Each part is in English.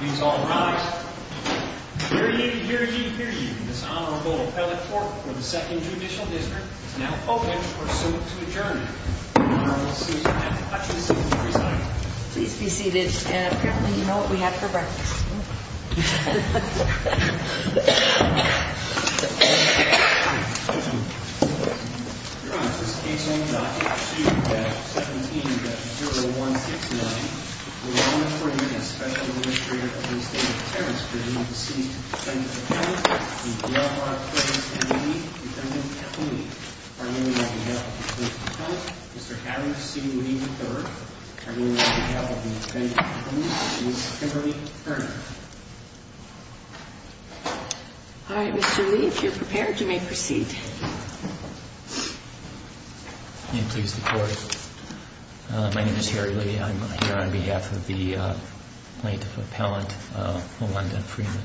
He's all right. Here you hear you hear you. This honorable appellate for the second judicial district now open or soon to adjourn. Please be seated. Apparently, you know what we had for breakfast. Okay. Thank you. Morning. Can you see? Kimberly? All right, Mr. Lee, if you're prepared, you may proceed. Can you please record? My name is Harry Lee. I'm here on behalf of the plaintiff appellant, Melinda Freeman.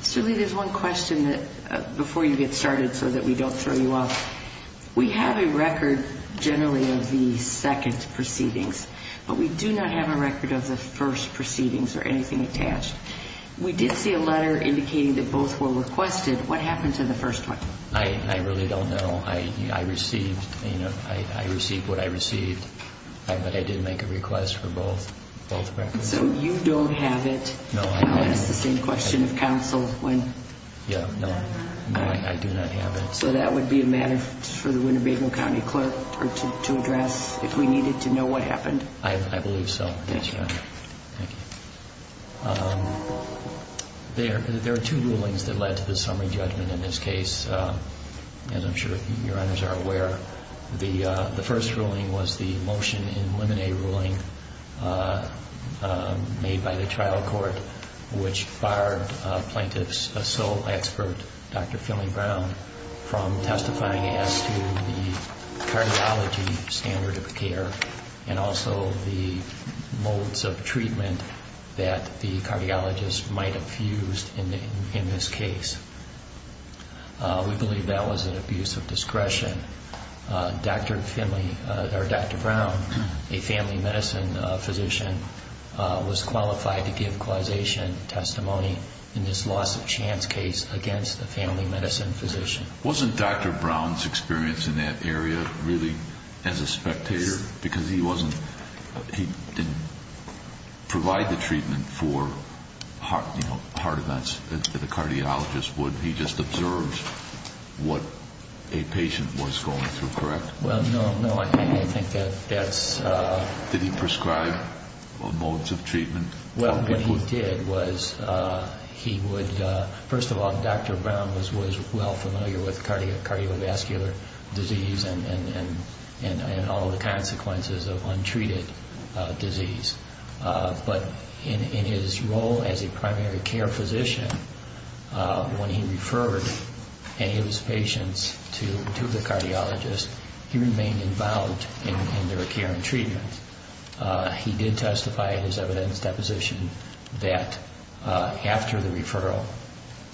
Mr. Lee, there's one question before you get started so that we don't throw you off. We have a record generally of the second proceedings, but we do not have a record of the first proceedings or anything attached. We did see a letter indicating that both were requested. What happened to the first one? I really don't know. I received what I received, but I didn't make a request for both records. So you don't have it? No, I don't. That's the same question of counsel when... Yeah, no. No, I do not have it. So that would be a matter for the Winnebago County clerk to address if we needed to know what happened? I believe so, yes, Your Honor. Thank you. There are two rulings that led to the summary judgment in this case, and I'm sure Your Honors are aware. The first ruling was the motion in limine ruling made by the trial court, which barred plaintiff's sole expert, Dr. Philly Brown, from testifying as to the cardiology standard of care and also the modes of treatment that the cardiologist might have used in this case. We believe that was an abuse of discretion. Dr. Brown, a family medicine physician, was qualified to give causation testimony in this loss of chance case against a family medicine physician. Wasn't Dr. Brown's experience in that area really as a spectator? Because he didn't provide the treatment for heart events that a cardiologist would. He just observed what a patient was going through, correct? Well, no, no, I think that's... Did he prescribe modes of treatment? Well, what he did was he would... First of all, Dr. Brown was well familiar with cardiovascular disease and all of the consequences of untreated disease. But in his role as a primary care physician, when he referred any of his patients to the cardiologist, he remained involved in their care and treatment. He did testify in his evidence deposition that after the referral,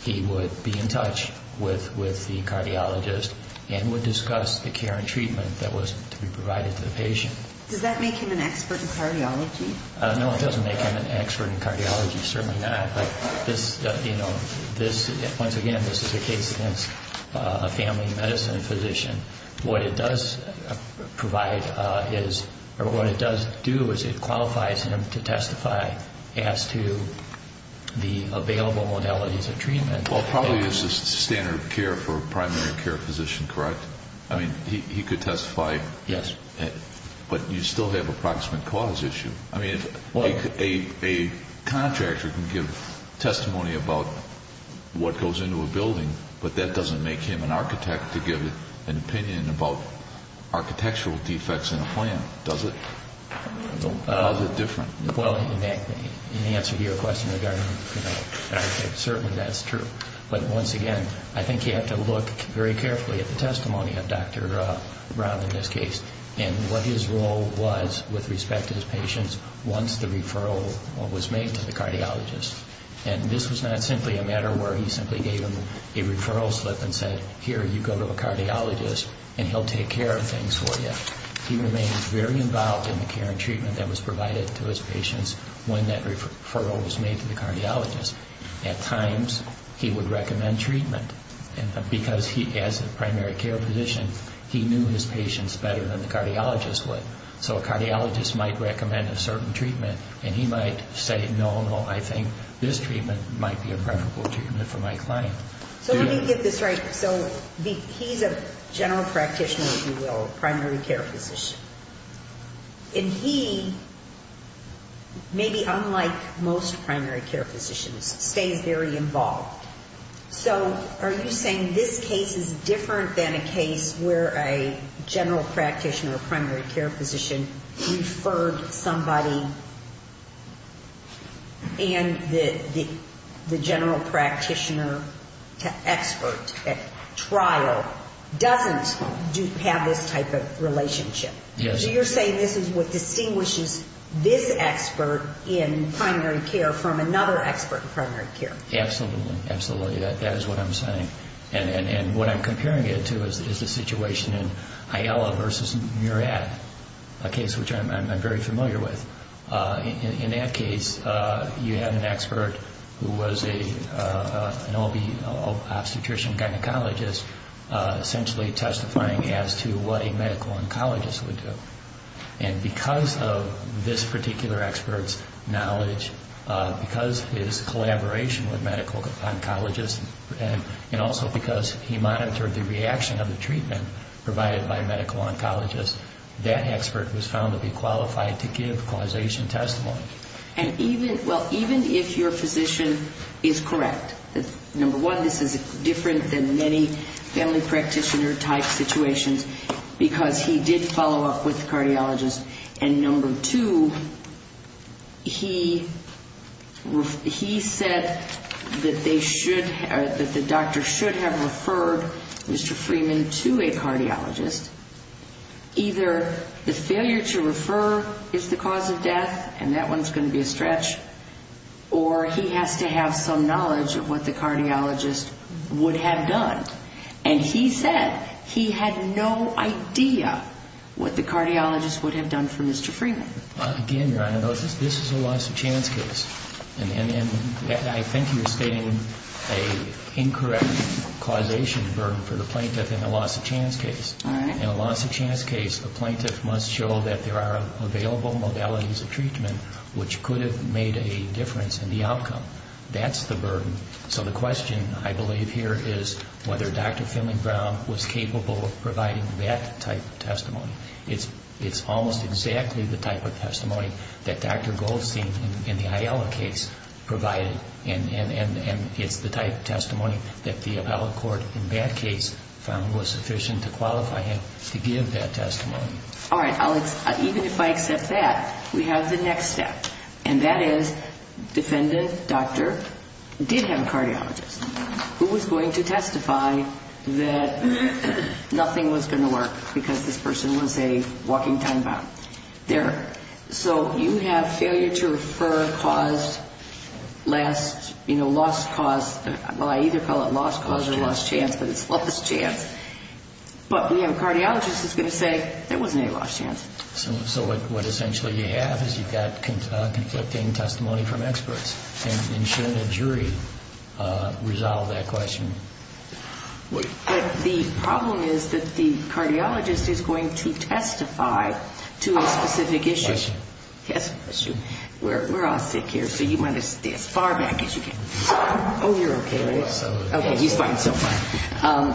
he would be in touch with the cardiologist and would discuss the care and treatment that was to be provided to the patient. Does that make him an expert in cardiology? No, it doesn't make him an expert in cardiology, certainly not. But this, once again, this is a case against a family medicine physician. What it does provide is... Or what it does do is it qualifies him to testify as to the available modalities of treatment. Well, probably this is standard care for a primary care physician, correct? I mean, he could testify. Yes. But you still have approximate cause issue. I mean, a contractor can give testimony about what goes into a building, but that doesn't make him an architect to give an opinion about architectural defects in a plan, does it? How is it different? Well, in answer to your question regarding an architect, certainly that's true. But once again, I think you have to look very carefully at the testimony of Dr. Brown in this case and what his role was with respect to his patients once the referral was made to the cardiologist. And this was not simply a matter where he simply gave them a referral slip and said, here, you go to a cardiologist and he'll take care of things for you. He remains very involved in the care and treatment that was provided to his patients when that referral was made to the cardiologist. At times, he would recommend treatment because he, as a primary care physician, he knew his patients better than the cardiologist would. So a cardiologist might recommend a certain treatment and he might say, no, no, I think this treatment might be a preferable treatment for my client. So let me get this right. So he's a general practitioner, if you will, primary care physician. And he, maybe unlike most primary care physicians, stays very involved. So are you saying this case is different than a case where a general practitioner or primary care physician referred somebody and the general practitioner to expert at trial doesn't have this type of relationship? Yes. So you're saying this is what distinguishes this expert in primary care from another expert in primary care? Absolutely. Absolutely. That is what I'm saying. And what I'm comparing it to is the situation in Ayala versus Murad, a case which I'm very familiar with. In that case, you had an expert who was an OB, obstetrician, gynecologist, essentially testifying as to what a medical oncologist would do. And because of this particular expert's knowledge, because his collaboration with medical oncologists, and also because he monitored the reaction of the treatment provided by medical oncologists, that expert was found to be qualified to give causation testimony. And even, well, even if your physician is correct, number one, this is different than many family practitioner type situations because he did follow up with the cardiologist. And number two, he said that they should, that the doctor should have referred Mr. Freeman to a cardiologist. Either the failure to refer is the cause of death, and that one's going to be a stretch, or he has to have some knowledge of what the cardiologist would have done. And he said he had no idea what the cardiologist would have done for Mr. Freeman. Again, Your Honor, this is a loss of chance case. And I think you're stating an incorrect causation burden for the plaintiff in a loss of chance case. In a loss of chance case, the plaintiff must show that there are available modalities of treatment which could have made a difference in the outcome. That's the burden. So the question, I believe here, is whether Dr. Finley-Brown was capable of providing that type of testimony. It's almost exactly the type of testimony that Dr. Goldstein in the Ayala case provided. And it's the type of testimony that the appellate court in that case found was sufficient to qualify him to give that testimony. All right, Alex, even if I accept that, we have the next step. And that is defendant, doctor, did have a cardiologist who was going to testify that nothing was going to work because this person was a walking time-bound. There. So you have failure to refer cause, last, you know, lost cause. Well, I either call it lost cause or lost chance, but it's lost chance. But we have a cardiologist who's going to say there wasn't any lost chance. So what essentially you have is you've got conflicting testimony from experts. And shouldn't a jury resolve that question? The problem is that the cardiologist is going to testify to a specific issue. Question. Yes, question. We're all sick here, so you want to stay as far back as you can. Oh, you're okay, right? Okay, he's fine, so fine.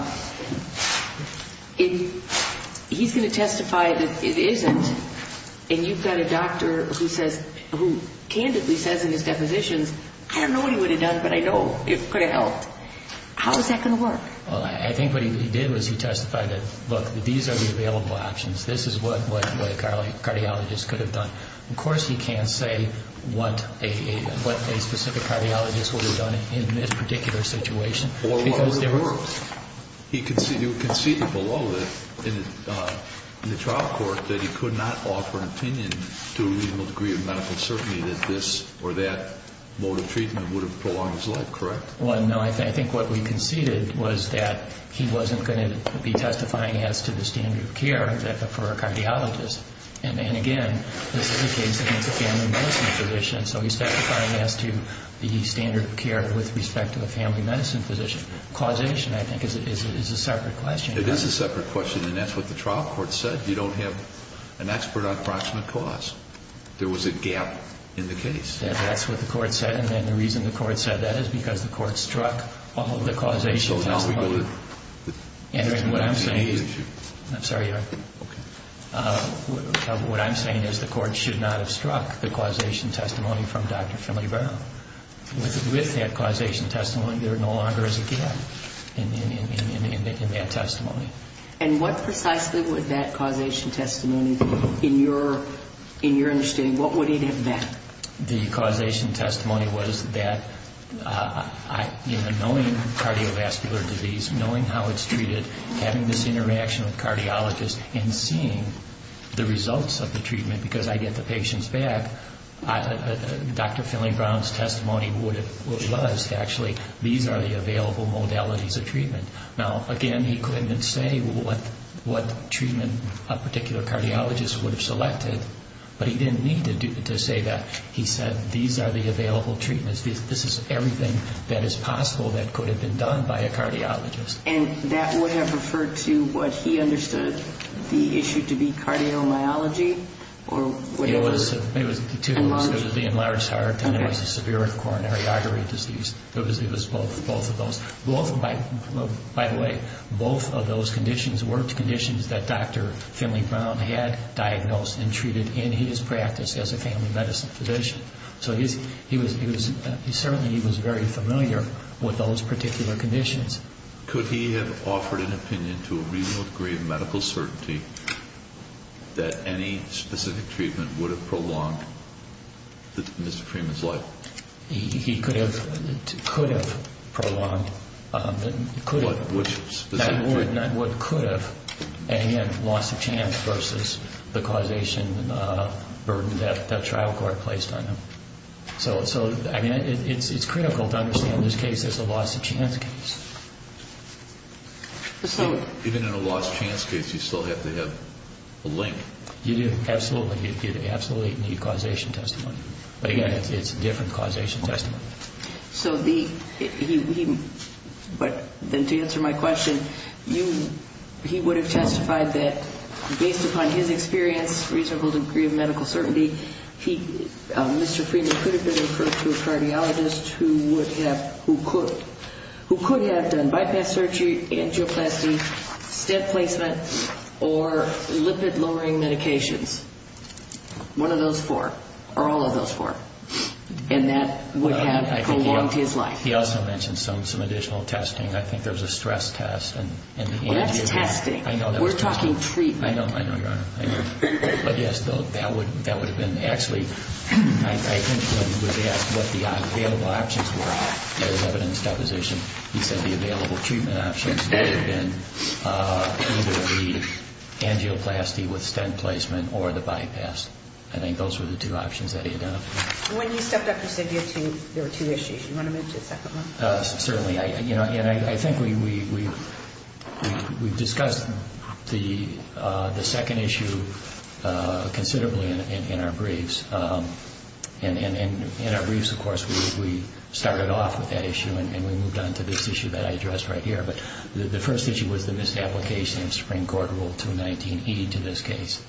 He's going to testify that it isn't. And you've got a doctor who says, who candidly says in his depositions, I don't know what he would have done, but I know it could have helped. How is that going to work? I think what he did was he testified that, look, these are the available options. This is what a cardiologist could have done. Of course he can't say what a specific cardiologist would have done in this particular situation. Or what would have worked? He conceded below in the trial court that he could not offer an opinion to a reasonable degree of medical certainty that this or that mode of treatment would have prolonged his life, correct? Well, no, I think what we conceded was that he wasn't going to be testifying as to the standard of care for a cardiologist. And, again, this is a case against a family medicine physician, so he's testifying as to the standard of care with respect to a family medicine physician. Causation, I think, is a separate question. It is a separate question, and that's what the trial court said. You don't have an expert on proximate cause. There was a gap in the case. That's what the court said, and then the reason the court said that is because the court struck the causation testimony. So now we go to the main issue. I'm sorry, Your Honor. Okay. What I'm saying is the court should not have struck the causation testimony from Dr. Finley Brown. With that causation testimony, there no longer is a gap in that testimony. And what precisely would that causation testimony, in your understanding, what would it have been? The causation testimony was that knowing cardiovascular disease, knowing how it's treated, having this interaction with cardiologists, and seeing the results of the treatment because I get the patients back, Dr. Finley Brown's testimony was actually, these are the available modalities of treatment. Now, again, he couldn't say what treatment a particular cardiologist would have selected, but he didn't need to say that. He said, these are the available treatments. This is everything that is possible that could have been done by a cardiologist. And that would have referred to what he understood the issue to be cardiomyology or whatever? It was the enlarged heart and there was a severe coronary artery disease. It was both of those. By the way, both of those conditions were conditions that Dr. Finley Brown had diagnosed and treated in his practice as a family medicine physician. So certainly he was very familiar with those particular conditions. Could he have offered an opinion to a reasonable degree of medical certainty that any specific treatment would have prolonged Mr. Freeman's life? He could have prolonged. Not would, but could have. And he had a loss of chance versus the causation burden that the trial court placed on him. So, I mean, it's critical to understand this case as a loss of chance case. Even in a loss of chance case, you still have to have a link. You do, absolutely. You absolutely need causation testimony. But again, it's a different causation testimony. So he, but then to answer my question, he would have testified that based upon his experience, reasonable degree of medical certainty, Mr. Freeman could have been referred to a cardiologist who could have done bypass surgery, angioplasty, step placement, or lipid-lowering medications. One of those four, or all of those four. And that would have prolonged his life. He also mentioned some additional testing. I think there was a stress test. That's testing. We're talking treatment. I know, I know, Your Honor. I know. But yes, though, that would have been, actually, I think when he was asked what the available options were for his evidence deposition, he said the available treatment options would have been either the angioplasty with stent placement or the bypass. I think those were the two options that he identified. When you stepped up, you said there were two issues. Do you want to move to the second one? Certainly. I think we discussed the second issue considerably in our briefs. In our briefs, of course, we started off with that issue and we moved on to this issue that I addressed right here. The first issue was the misapplication of Supreme Court Rule 219E to this case.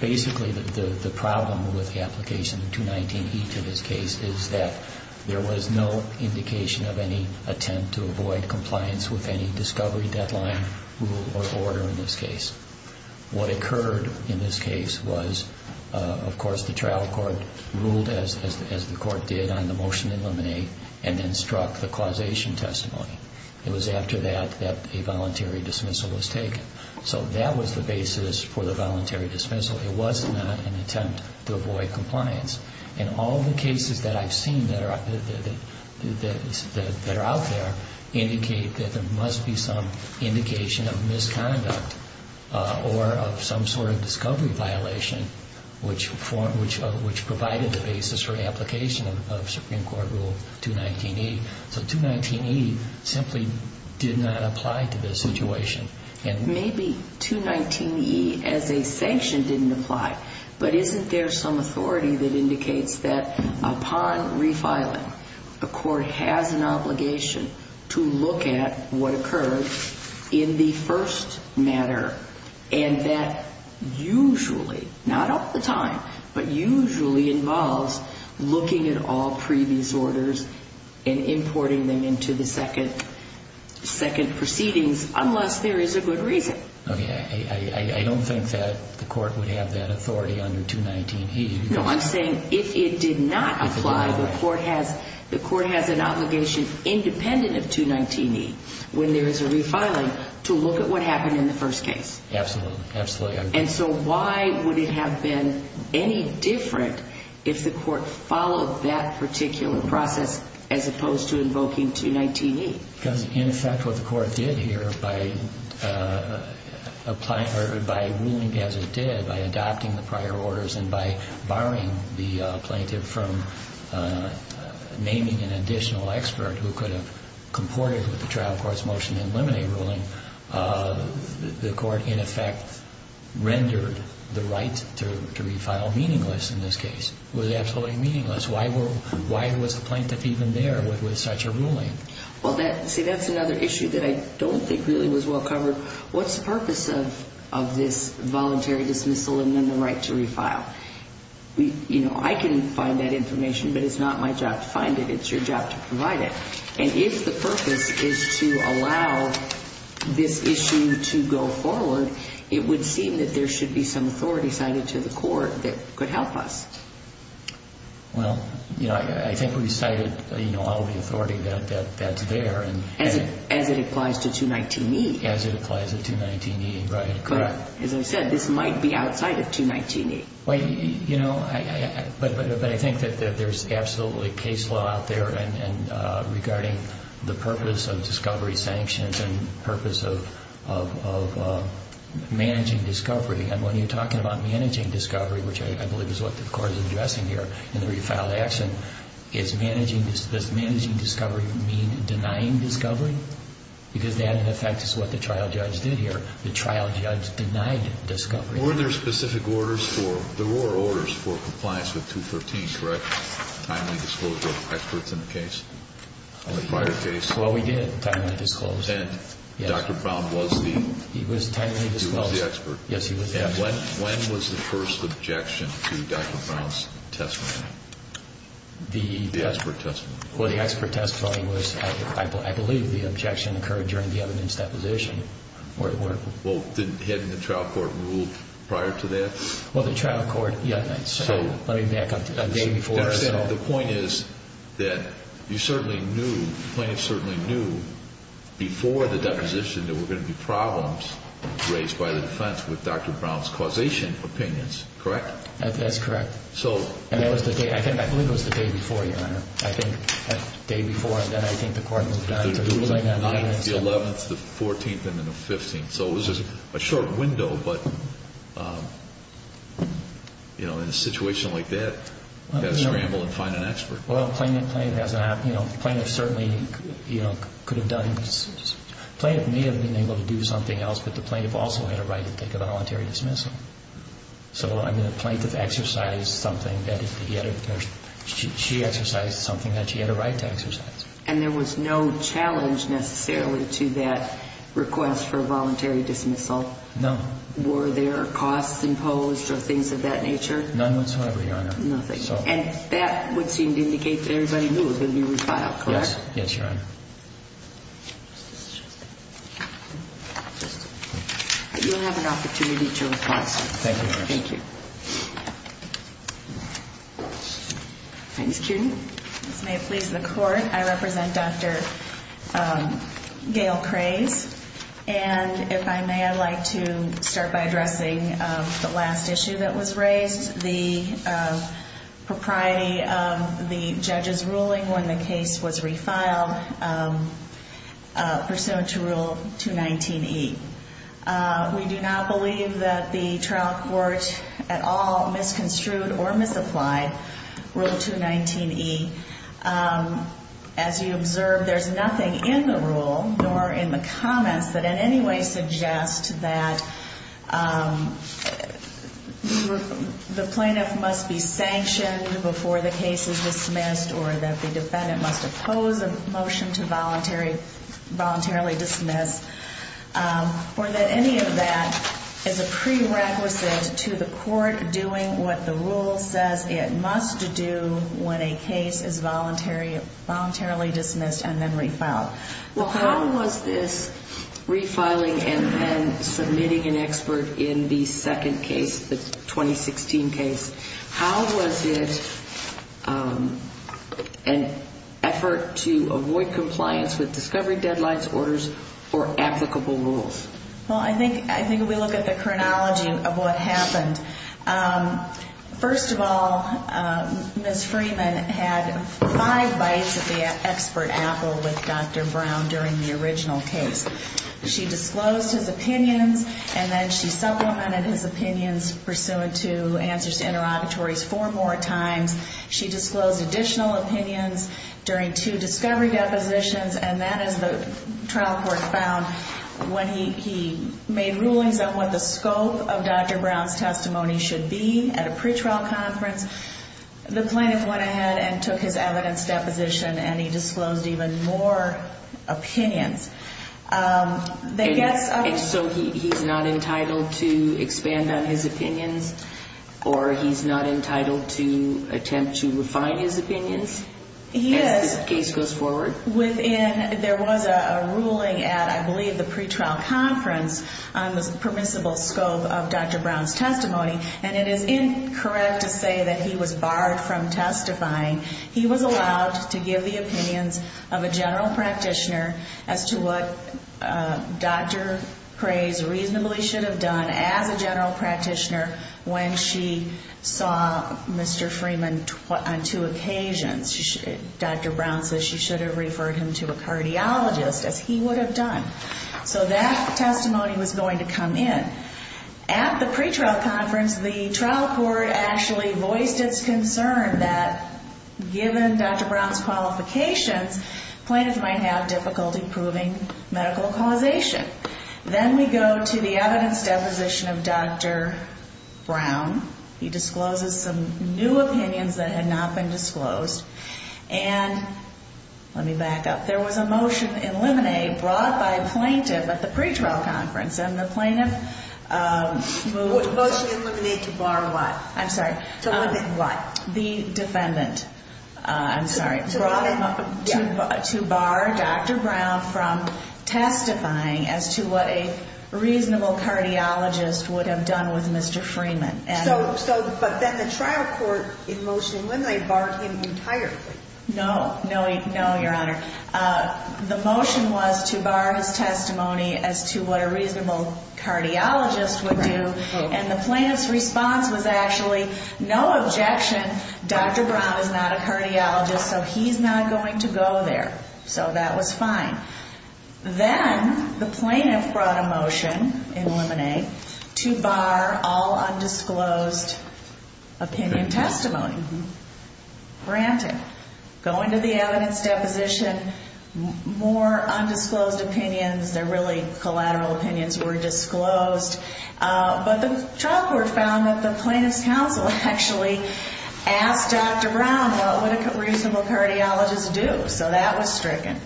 Basically, the problem with the application of 219E to this case is that there was no indication of any attempt to avoid compliance with any discovery, deadline, rule, or order in this case. What occurred in this case was, of course, the trial court ruled, as the court did on the motion to eliminate, and then struck the causation testimony. It was after that that a voluntary dismissal was taken. So that was the basis for the voluntary dismissal. It was not an attempt to avoid compliance. All the cases that I've seen that are out there indicate that there must be some indication of misconduct or of some sort of discovery violation, which provided the basis for the application of Supreme Court Rule 219E. So 219E simply did not apply to this situation. Maybe 219E as a sanction didn't apply, but isn't there some authority that indicates that, upon refiling, the court has an obligation to look at what occurred in the first matter, and that usually, not all the time, but usually involves looking at all previous orders and importing them into the second proceedings, unless there is a good reason. I don't think that the court would have that authority under 219E. No, I'm saying if it did not apply, the court has an obligation independent of 219E when there is a refiling to look at what happened in the first case. Absolutely. Absolutely. And so why would it have been any different if the court followed that particular process as opposed to invoking 219E? Because, in effect, what the court did here by ruling as it did, by adopting the prior orders and by barring the plaintiff from naming an additional expert who could have comported with the trial court's motion to eliminate ruling, the court, in effect, rendered the right to refile meaningless in this case. It was absolutely meaningless. Why was the plaintiff even there with such a ruling? Well, see, that's another issue that I don't think really was well covered. What's the purpose of this voluntary dismissal and then the right to refile? You know, I can find that information, but it's not my job to find it. It's your job to provide it. And if the purpose is to allow this issue to go forward, it would seem that there should be some authority cited to the court that could help us. Well, you know, I think we cited all the authority that's there. As it applies to 219E. As it applies to 219E, right. Correct. As I said, this might be outside of 219E. Well, you know, but I think that there's absolutely case law out there regarding the purpose of discovery sanctions and purpose of managing discovery. And when you're talking about managing discovery, which I believe is what the court is addressing here in the refiled action, does managing discovery mean denying discovery? Because that, in effect, is what the trial judge did here. The trial judge denied discovery. Were there specific orders for... There were orders for compliance with 213, correct? Timely disclosure of experts in the case? Well, we did. Timely disclose. And Dr. Brown was the... He was timely disclosed. He was the expert. Yes, he was the expert. And when was the first objection to Dr. Brown's testimony? The expert testimony. Well, the expert testimony was, I believe, the objection occurred during the evidence deposition. Well, hadn't the trial court ruled prior to that? Well, the trial court... Let me back up a day before. The point is that you certainly knew, plaintiffs certainly knew, before the deposition, there were going to be problems raised by the defense with Dr. Brown's causation opinions, correct? That's correct. And that was the day... I believe it was the day before, Your Honor. I think the day before, and then I think the court moved on to... The 11th, the 14th, and then the 15th. So it was a short window, but in a situation like that, you've got to scramble and find an expert. Well, the plaintiff certainly could have done... The plaintiff may have been able to do something else, but the plaintiff also had a right to take a voluntary dismissal. So, I mean, the plaintiff exercised something that... She exercised something that she had a right to exercise. And there was no challenge, necessarily, to that request for a voluntary dismissal? No. Were there costs imposed or things of that nature? None whatsoever, Your Honor. Nothing. And that would seem to indicate that everybody knew it was going to be refiled, correct? Yes. Yes, Your Honor. You'll have an opportunity to reply, sir. Thank you, Your Honor. Thank you. Thanks, Kiernan. As may it please the court, I represent Dr. Gail Craze. And if I may, I'd like to start by addressing the last issue that was raised, the propriety of the judge's ruling when the case was refiled, pursuant to Rule 219E. We do not believe that the trial court at all misconstrued or misapplied Rule 219E. As you observe, there's nothing in the rule nor in the comments that in any way suggest that the plaintiff must be sanctioned before the case is dismissed or that the defendant must oppose a motion to voluntarily dismiss. Or that any of that is a prerequisite to the court doing what the rule says it must do when a case is voluntarily dismissed and then refiled. Well, how was this refiling and then submitting an expert in the second case, the 2016 case, how was it an effort to avoid compliance with discovery deadlines, orders, or applicable rules? Well, I think we look at the chronology of what happened. First of all, Ms. Freeman had five bites of the expert apple with Dr. Brown during the original case. She disclosed his opinions and then she supplemented his opinions pursuant to answers to interrogatories four more times. She disclosed additional opinions during two discovery depositions and that is the trial court found when he made rulings on what the scope of Dr. Brown's testimony should be at a pretrial conference, the plaintiff went ahead and took his evidence deposition and he disclosed even more opinions. So he's not entitled to expand on his opinions or he's not entitled to attempt to refine his opinions? Yes. As the case goes forward? Within, there was a ruling at I believe the pretrial conference on the permissible scope of Dr. Brown's testimony and it is incorrect to say that he was barred from testifying. He was allowed to give the opinions of a general practitioner as to what Dr. Preys reasonably should have done as a general practitioner when she saw Mr. Freeman on two occasions. Dr. Brown says she should have referred him to a cardiologist as he would have done. So that testimony was going to come in. At the pretrial conference the trial court actually voiced its concern that given Dr. Brown's qualifications plaintiffs might have difficulty proving medical causation. Then we go to the evidence deposition of Dr. Brown. He discloses some new opinions that had not been disclosed. And, let me back up, there was a motion in limine brought by a plaintiff at the pretrial conference and the plaintiff What motion in limine to bar what? I'm sorry. To limit what? The defendant. I'm sorry. To bar Dr. Brown from testifying as to what a reasonable cardiologist would have done with Mr. Freeman. So, but then the trial court in motion in limine barred him entirely. No. No, your honor. The motion was to bar his testimony as to what a reasonable cardiologist would do and the plaintiff's response was actually no objection Dr. Brown is not a cardiologist so he's not going to go there. So that was fine. Then the plaintiff brought a motion in limine to bar all undisclosed opinion testimony. Granted. Going to the evidence deposition more undisclosed opinions they're really collateral opinions were disclosed but the trial court found that the plaintiff's counsel actually asked Dr. Brown what would a reasonable cardiologist do? So that was stricken.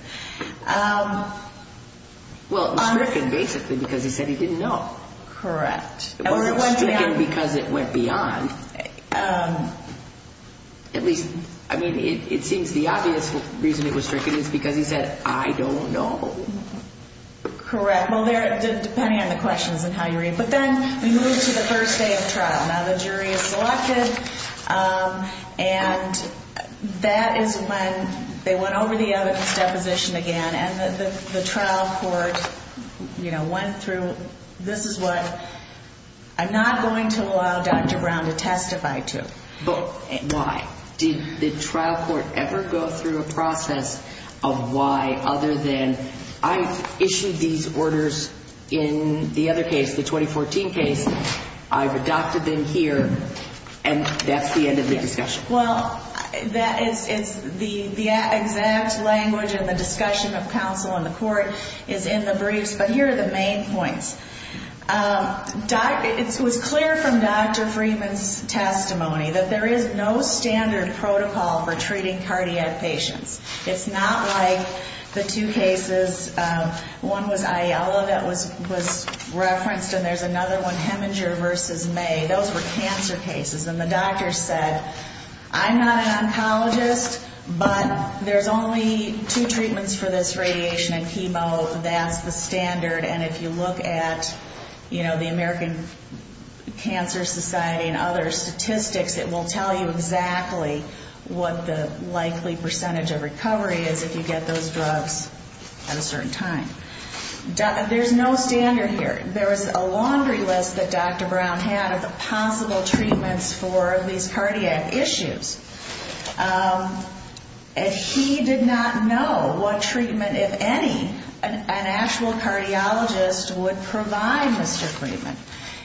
Well, stricken basically because he said he didn't know. Correct. Or it went beyond um at least I mean it seems the obvious reason it was stricken is because he said I don't know. Correct. Well there depending on the questions and how you read but then we move to the first day of trial now the jury is selected um and that is when they went over the evidence deposition again and the trial court you know went through this is what I'm not going to allow Dr. Brown to testify to. But why? Did the trial court ever go through a process of why other than I've issued these orders in the other case the 2014 case I've adopted them here and that's the end of the discussion. Well that is the exact language in the discussion of counsel in the court is in the briefs but here are the main points. Um it was clear from Dr. Freeman's testimony that there is no standard protocol for treating cardiac patients. It's not like the two cases um one was Aiello that was referenced and there's another one Heminger versus May those were cancer cases and the doctor said I'm not an oncologist but there's only two treatments for this radiation and chemo that's the standard and if you look at you know the American Cancer Society and other statistics it will tell you exactly what the likely percentage of recovery is if you get those drugs at a certain time. There's no standard here. There's a laundry list that Dr. Brown had of the possible treatments for these cardiac issues. Um and he did not know what treatment if any an actual cardiologist would provide for Mr. Freeman.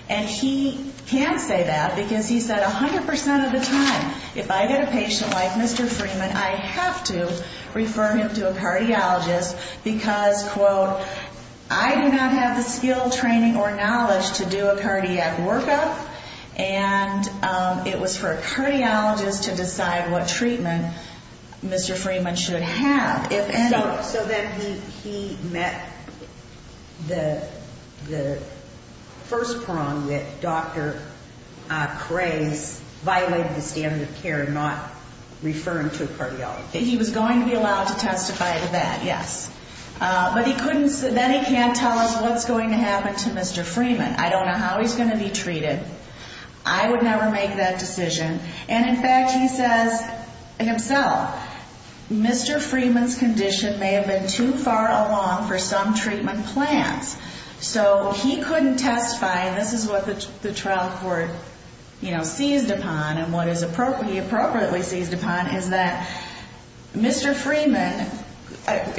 And he can't say that because he said 100% of the time if I get a patient like Mr. Freeman I have to refer him to a cardiologist because quote I do not have the skill training or knowledge to do a cardiac workup and um it was for a cardiologist to decide what treatment Mr. Freeman should have if any. So then he he met the the first prong that Dr. uh Craze violated the standard of care not referring to a cardiologist. He was going to be allowed to testify to that, yes. Uh but he couldn't then he can't tell us what's going to happen to Mr. Freeman. I don't know how he's going to be treated. I would never make that decision and in fact he says himself Mr. Freeman's condition may have been too far along for some treatment plans. So he couldn't testify and this is what the trial court you know seized upon and what is appropriately seized upon is that Mr. Freeman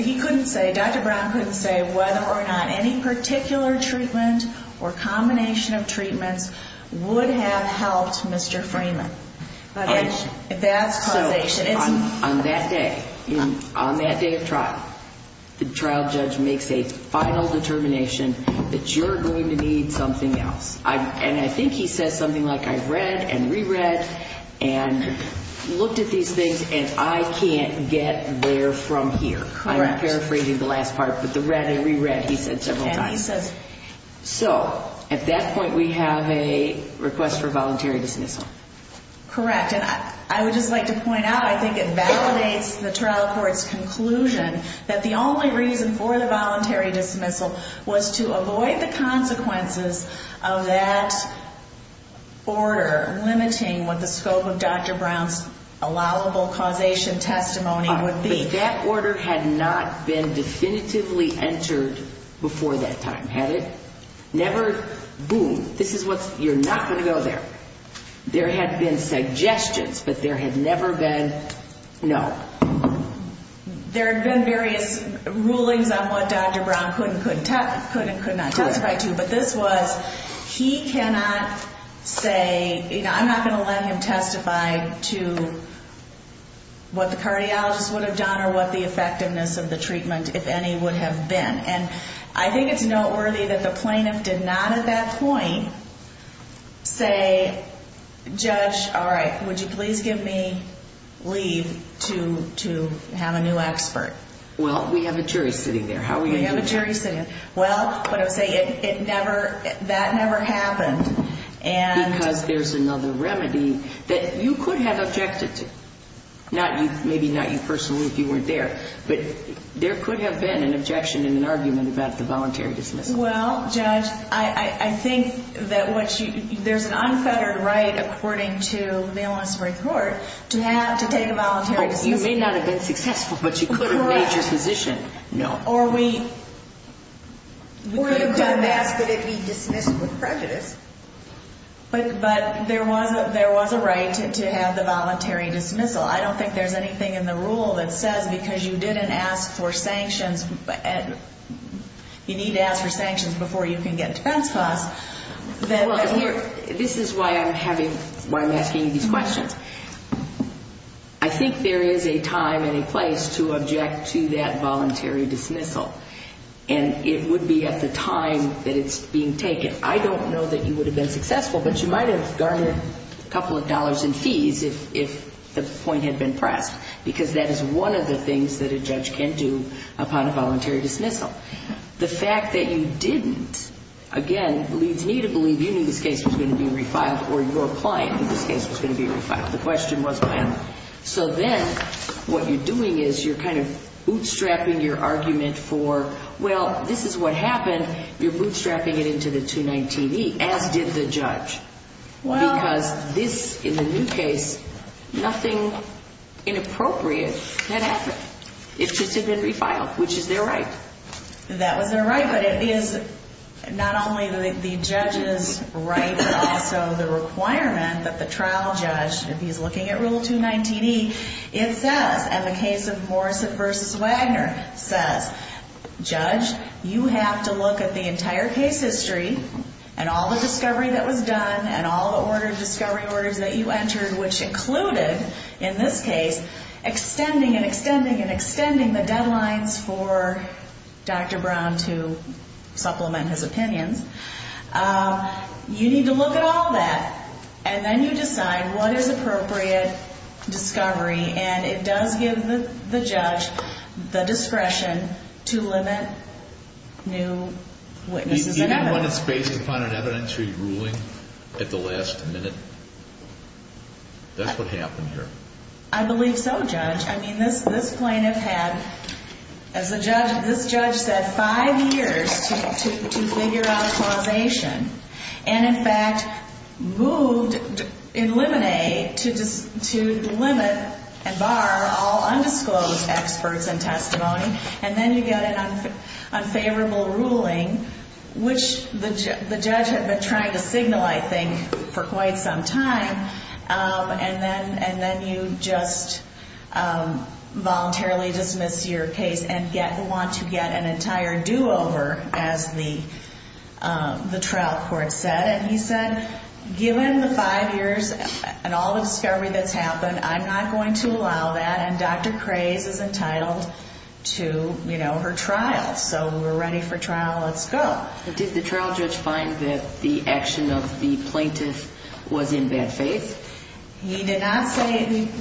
he couldn't say Dr. Brown couldn't say whether or not any particular treatment or combination of treatments would have helped Mr. Freeman. That's causation. On that day on that day of trial the trial judge makes a final determination that you're going to need something else. And I think he says something like I read and re-read and looked at these things and I can't get there from here. I'm paraphrasing the last part but the read and re-read he said several times. So at that point we have a request for voluntary dismissal. Correct and I would just like to point out I think it validates the trial court's conclusion that the only reason for the voluntary dismissal was to avoid the consequences of that order limiting what the scope of Dr. Brown's allowable causation testimony would be. But that order had not been definitively entered before that time had it? Never boom this is what you're not going to go there. There had been suggestions but there had never been no. There had been various rulings on what Dr. Brown could and could not testify to but this was he cannot say you know I'm not going to let him testify to what the cardiologist would have done or what the effectiveness of the treatment if any would have been and I think it's noteworthy that the plaintiff did not at that point say judge all right would you please give me leave to have a new expert. Well we have a jury sitting there. We have a jury sitting there. Well but I would say it never that never happened and because there's another remedy that you could have objected to not you maybe not you personally if you weren't there but there could have been an involuntary dismissal. Well judge I think that what you there's an unfettered right according to the mail on summary court to have to take a voluntary dismissal. You may not have been successful but you could have made your position. No. Or you could have asked that it be dismissed with prejudice. But there was a right to have the voluntary dismissal. I don't think there's anything in the rule that says because you didn't ask for sanctions you need to ask for sanctions before you can get transferred this is why I'm having why I'm asking these questions. I think there is a time and a place to object to that voluntary dismissal. And it would be at the time that it's being taken. I don't know that you would have been successful but you might have garnered a couple of dollars in fees if the point had been pressed because that is one of the things that a judge can do upon a voluntary dismissal. The fact that you didn't again leads me to believe you knew this case was going to be refiled or your client knew this case was going to be refiled. The question was when. So then what you're doing is you're kind of bootstrapping your argument for, well this is what happened. You're bootstrapping it into the 219E as did the judge. Because this in the new case nothing inappropriate that happened. It's just been refiled which is their right. That was their right but it is not only the judge's right but also the requirement that the trial judge if he's looking at Rule 219E it says in the case of Morrison v. Wagner says judge you have to look at the entire case history and all the discovery that was done and all the discovery orders that you entered which included in this case extending and extending and extending the deadlines for Dr. Brown to supplement his opinions. You need to look at all that and then you decide what is appropriate discovery and it does give the judge the discretion to limit new witnesses that happen. Even when it's based upon an evidentiary ruling at the last minute? That's what happened here. I believe so judge. I mean this plaintiff had as the judge this judge said five years to figure out causation and in fact moved in Lemonade to limit and bar all undisclosed experts and testimony and then you get an unfavorable ruling which the judge had been trying to signal I think for quite some time and then and then you just voluntarily dismiss your case and want to get an entire do-over as the the trial court said and he said given the five years and all the discovery that's happened I'm not going to allow that and Dr. Krays is entitled to you know her trial so we're ready for trial let's go Did the trial judge find that the action of the plaintiff was in bad faith? He did not say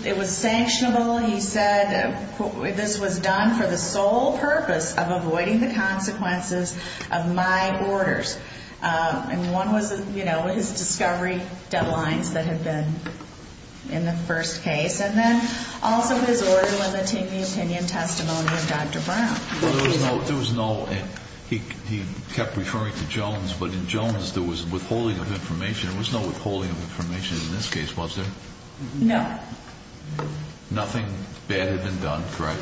it was sanctionable he said this was done for the sole purpose of avoiding the consequences of my orders and one was you know his discovery deadlines that had been in the first case and then also his order limiting the opinion testimony of Dr. Brown There was no there was no he kept referring to Jones but in Jones there was withholding of information there was no withholding of information in this case was there? No Nothing bad had been done correct?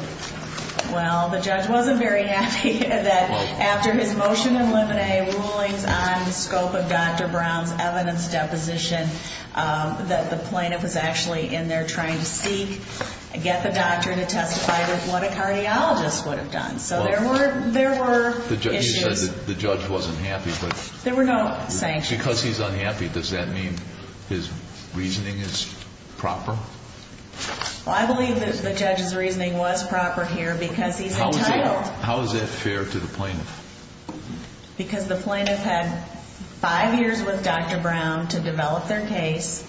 Well the judge wasn't very happy that after his motion in limine rulings on the scope of Dr. Brown's evidence deposition that the plaintiff was actually in there trying to seek get the doctor to testify what a cardiologist would have done so there were there were issues The judge wasn't happy there were no sanctions because he's unhappy does that mean his reasoning is proper? I believe the judge's reasoning was proper here because he's trying to get fair to the plaintiff because the plaintiff had five years with Dr. Brown to develop their case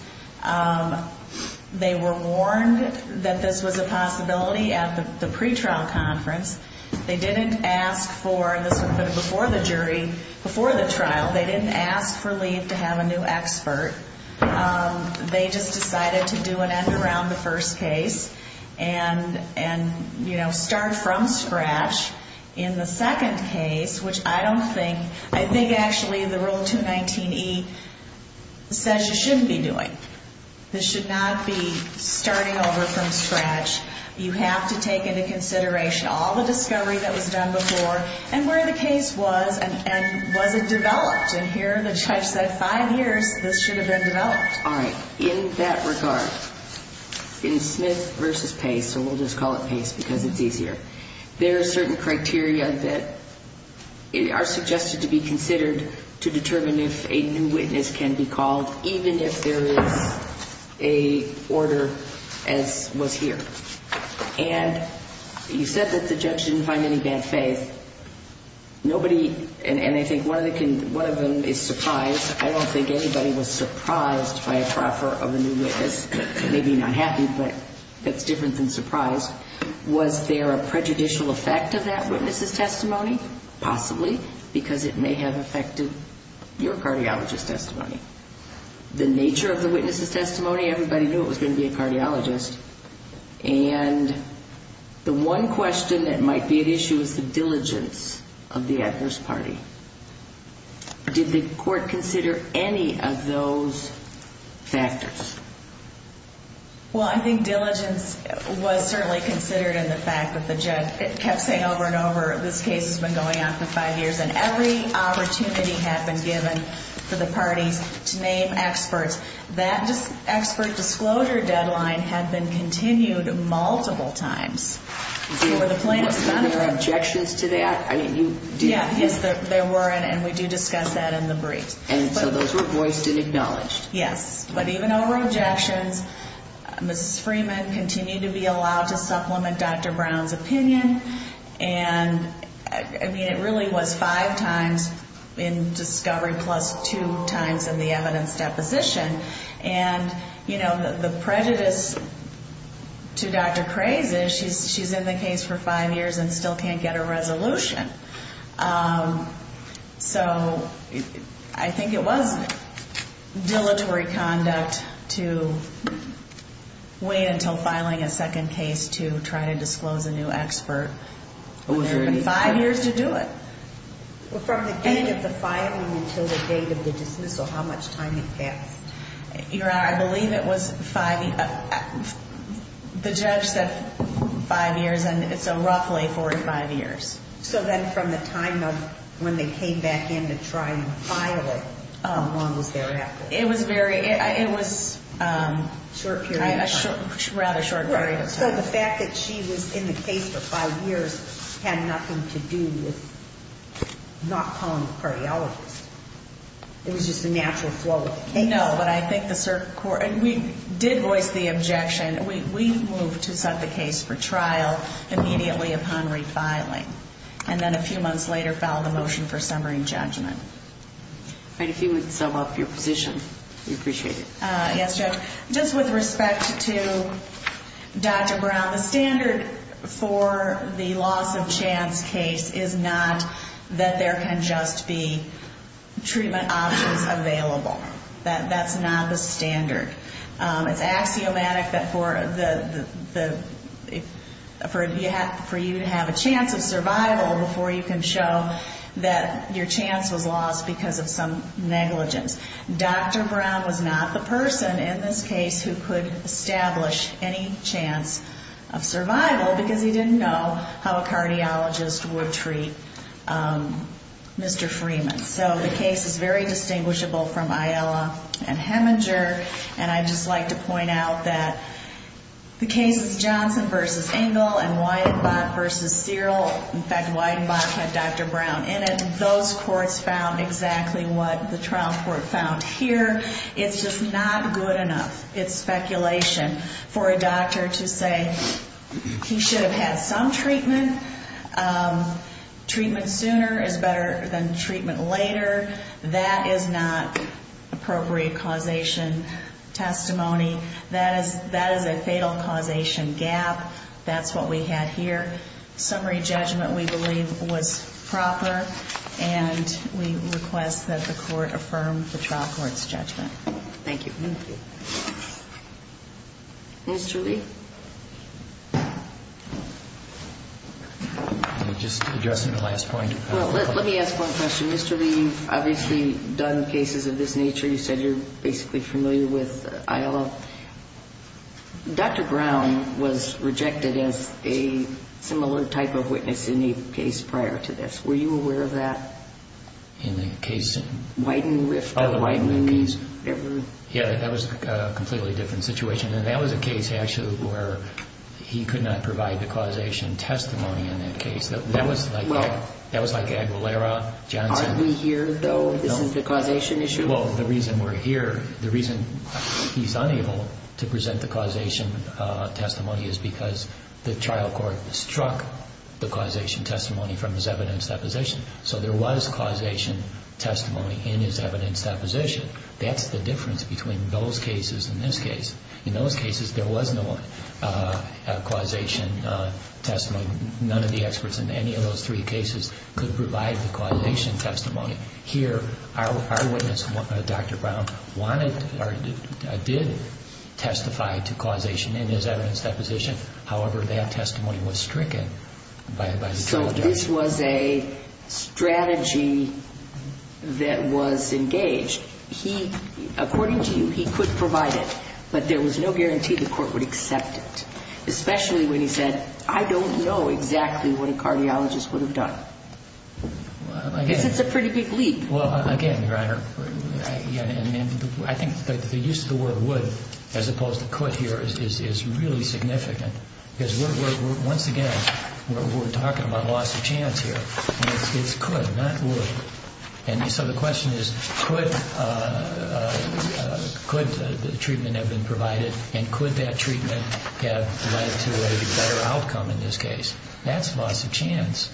they were warned that this was a possibility at the pretrial conference they didn't ask for this would have been before the jury before the trial they didn't ask for leave to have a new expert they just decided to do an end around the first case and and you know start from scratch in the second case which I don't think I think actually the rule 219E says you shouldn't be doing this should not be starting over from scratch you have to take into consideration all the discovery that was done before and where the case was and was it developed and here the judge said five years this should have been developed alright in that regard in Smith versus Pace so we'll just call it Pace because it's easier there are certain criteria that are suggested to be considered to determine if a new witness can be called even if there is a order as was here and you said that the judge didn't find any bad faith nobody and I think one of them is surprise I don't think anybody was surprised by a proffer of a new witness maybe not happy but that's different than surprise was there a prejudicial effect of that witness's testimony possibly because it may have affected your cardiologist testimony the nature of the witness's testimony everybody knew it was going to be a cardiologist and the one question that might be at issue is the diligence of the adverse party did the court consider any of those factors well I think diligence was certainly considered in the fact that the judge kept saying over and over this case has been going on for five years and every opportunity had been given for the parties to name experts that expert disclosure deadline had been continued multiple times were there objections to that yes there were and we do discuss that in the brief and so those were voiced and acknowledged yes but even over objections Mrs. Freeman continued to be allowed to supplement Dr. Brown's opinion and I mean it really was five times in discovery plus two times in the evidence deposition and you know the prejudice to Dr. Craze is she's in the case for five years and still can't get a resolution so I think it was dilatory conduct to wait until filing a second case to try to disclose a new expert when there have been five years to do it well from the date of the filing until the date of the dismissal how much time it passed I believe it the judge said five years and it's roughly 45 years so then from the time of when they came back in to try and file it how long was there after it was very it was short period rather short period so the fact that she was in the case for five years had nothing to do with not calling the cardiologist it was just a natural flow of the case no but I think the circuit court we did voice the objection we moved to set the case for trial immediately upon refiling and then a few months later filed a motion for summary judgment and if you would sum up your position we appreciate it yes Judge just with respect to Dr. Brown the standard for the loss of chance case is not that there can just be treatment options available that's not the standard it's axiomatic that for the for you to have a chance of survival before you can show that your chance was lost because of some negligence Dr. Brown was not the person in this case who could establish any chance of survival because he didn't know how a cardiologist would treat Mr. Freeman so the case is very distinguishable from Aiella and Heminger and I'd just like to point out that the cases Johnson vs. Engel and Weidenbach vs. Searle in fact Weidenbach had Dr. Brown in it those courts found exactly what the trial court found here it's just not good enough it's speculation for a doctor to say he should have had some treatment treatment sooner is better than treatment later that is not appropriate causation testimony that is that is a fatal causation gap that's what we had here summary judgment we believe was proper and we request affirm the trial court's judgment Thank you Thank you Mr. Lee Just addressing the last point Let me ask one question Mr. Lee you've obviously done cases of this nature you said you're basically familiar with ILA Dr. Brown was rejected as a similar type of witness in the case prior to this were you aware of that in the case Weiden Rift Weiden Yeah that was a completely different situation and that was a case actually where he could not provide the causation testimony in that case that was like Aguilera Johnson Aren't we here though this is the causation issue Well the reason we're here the reason he's unable to present the causation testimony is because the trial court struck the causation testimony from his evidence deposition so there was causation testimony in his evidence deposition that's the difference between those cases and this case in those cases there was no causation testimony none of the experts in any of those three cases could provide the causation testimony here our witness Dr. Brown wanted did testify to causation in his evidence deposition however that testimony was stricken So this was a strategy that was engaged he according to you he could provide it but there was no guarantee the court would accept it especially when he said I don't know exactly what a cardiologist would have done because it's a pretty big leap Well again your honor I think the use of the word would as opposed to could here is really significant because we're once again we're talking about loss of chance here it's could not would and so the question is could could the treatment have been provided and could that treatment have led to a better outcome in this case that's loss of chance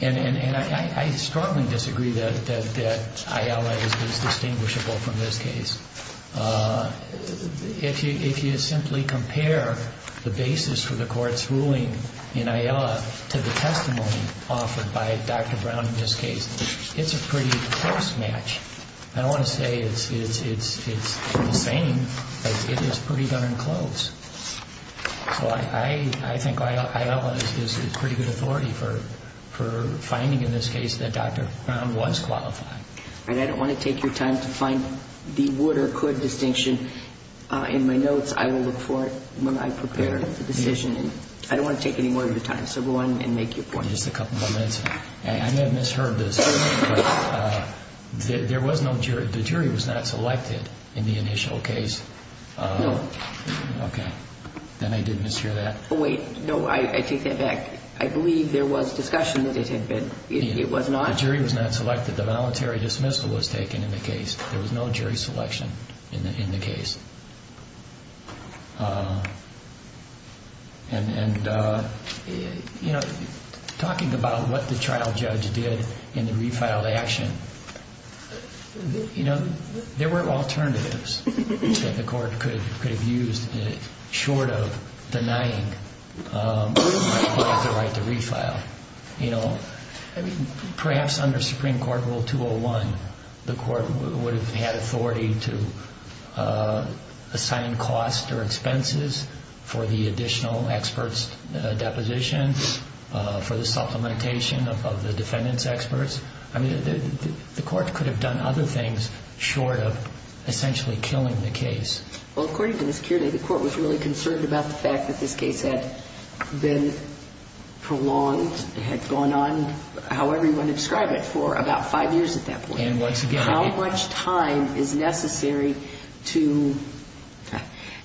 and I strongly disagree that Ayala is distinguishable from this case if you if you simply compare the basis for the court's ruling in Ayala to the testimony offered by Dr. Brown in this case it's a pretty close match I don't want to say it's the same but it is pretty darn close so I I think Ayala is pretty good authority for finding in this case that Dr. Brown was qualified and I don't want to take your time to find the would or could distinction in my notes I will look for it when I prepare the decision I don't want to take any more of your time so go on and make your point just a couple of minutes I may have misheard this there was no jury the jury was not selected in the initial case no okay then I did mishear that wait no I take that back I believe there was discussion that it had been it was not the jury was not selected the voluntary dismissal was taken in the case there was no jury selection in the case and you know talking about what the trial judge did in the refiled action you know there were alternatives that the court could have used short of denying the right to refile you know perhaps under Supreme Court Rule 201 the court would have had authority to assign cost or expenses for the additional experts deposition for the supplementation of the defendants experts I mean the court could have done other things short of essentially killing the case well according to the security the court was really concerned about the fact that this case had been prolonged had gone on however you want to describe it for about five years at that point and once again how much time is necessary to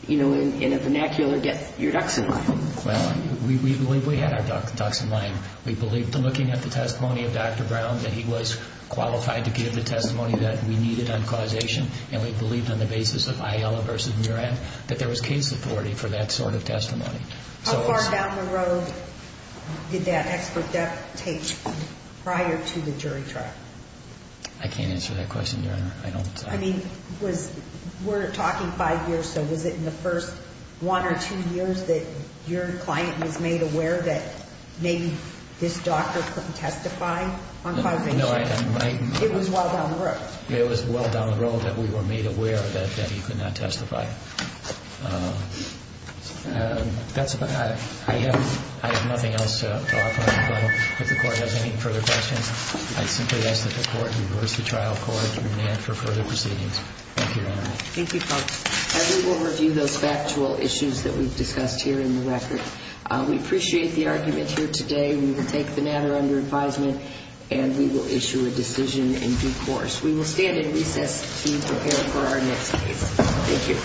you know in a vernacular get your ducks in line well we believe we had our ducks in line we believed looking at the testimony of Dr. Brown that he was qualified to give the testimony that we needed on causation and we believed on the basis of Ayala vs. Muran that there was case authority for that sort of testimony how far down the road did that expert deposition prior to the jury trial I can't answer that question your honor I don't I mean was we're talking five years so was it in the first one or two years that your client was made aware that maybe this doctor couldn't testify on causation it was well down the road it was well down the road that we were made aware that that he could not testify that's I have I have nothing else to offer if the court has any further questions I'd simply ask that the court reverse the trial for further proceedings thank you your honor thank you folks we will review those factual issues that we've discussed here in the record we appreciate the argument here today we will take the matter under advisement and we will issue a decision in due course we will stand in recess to prepare for our next case thank you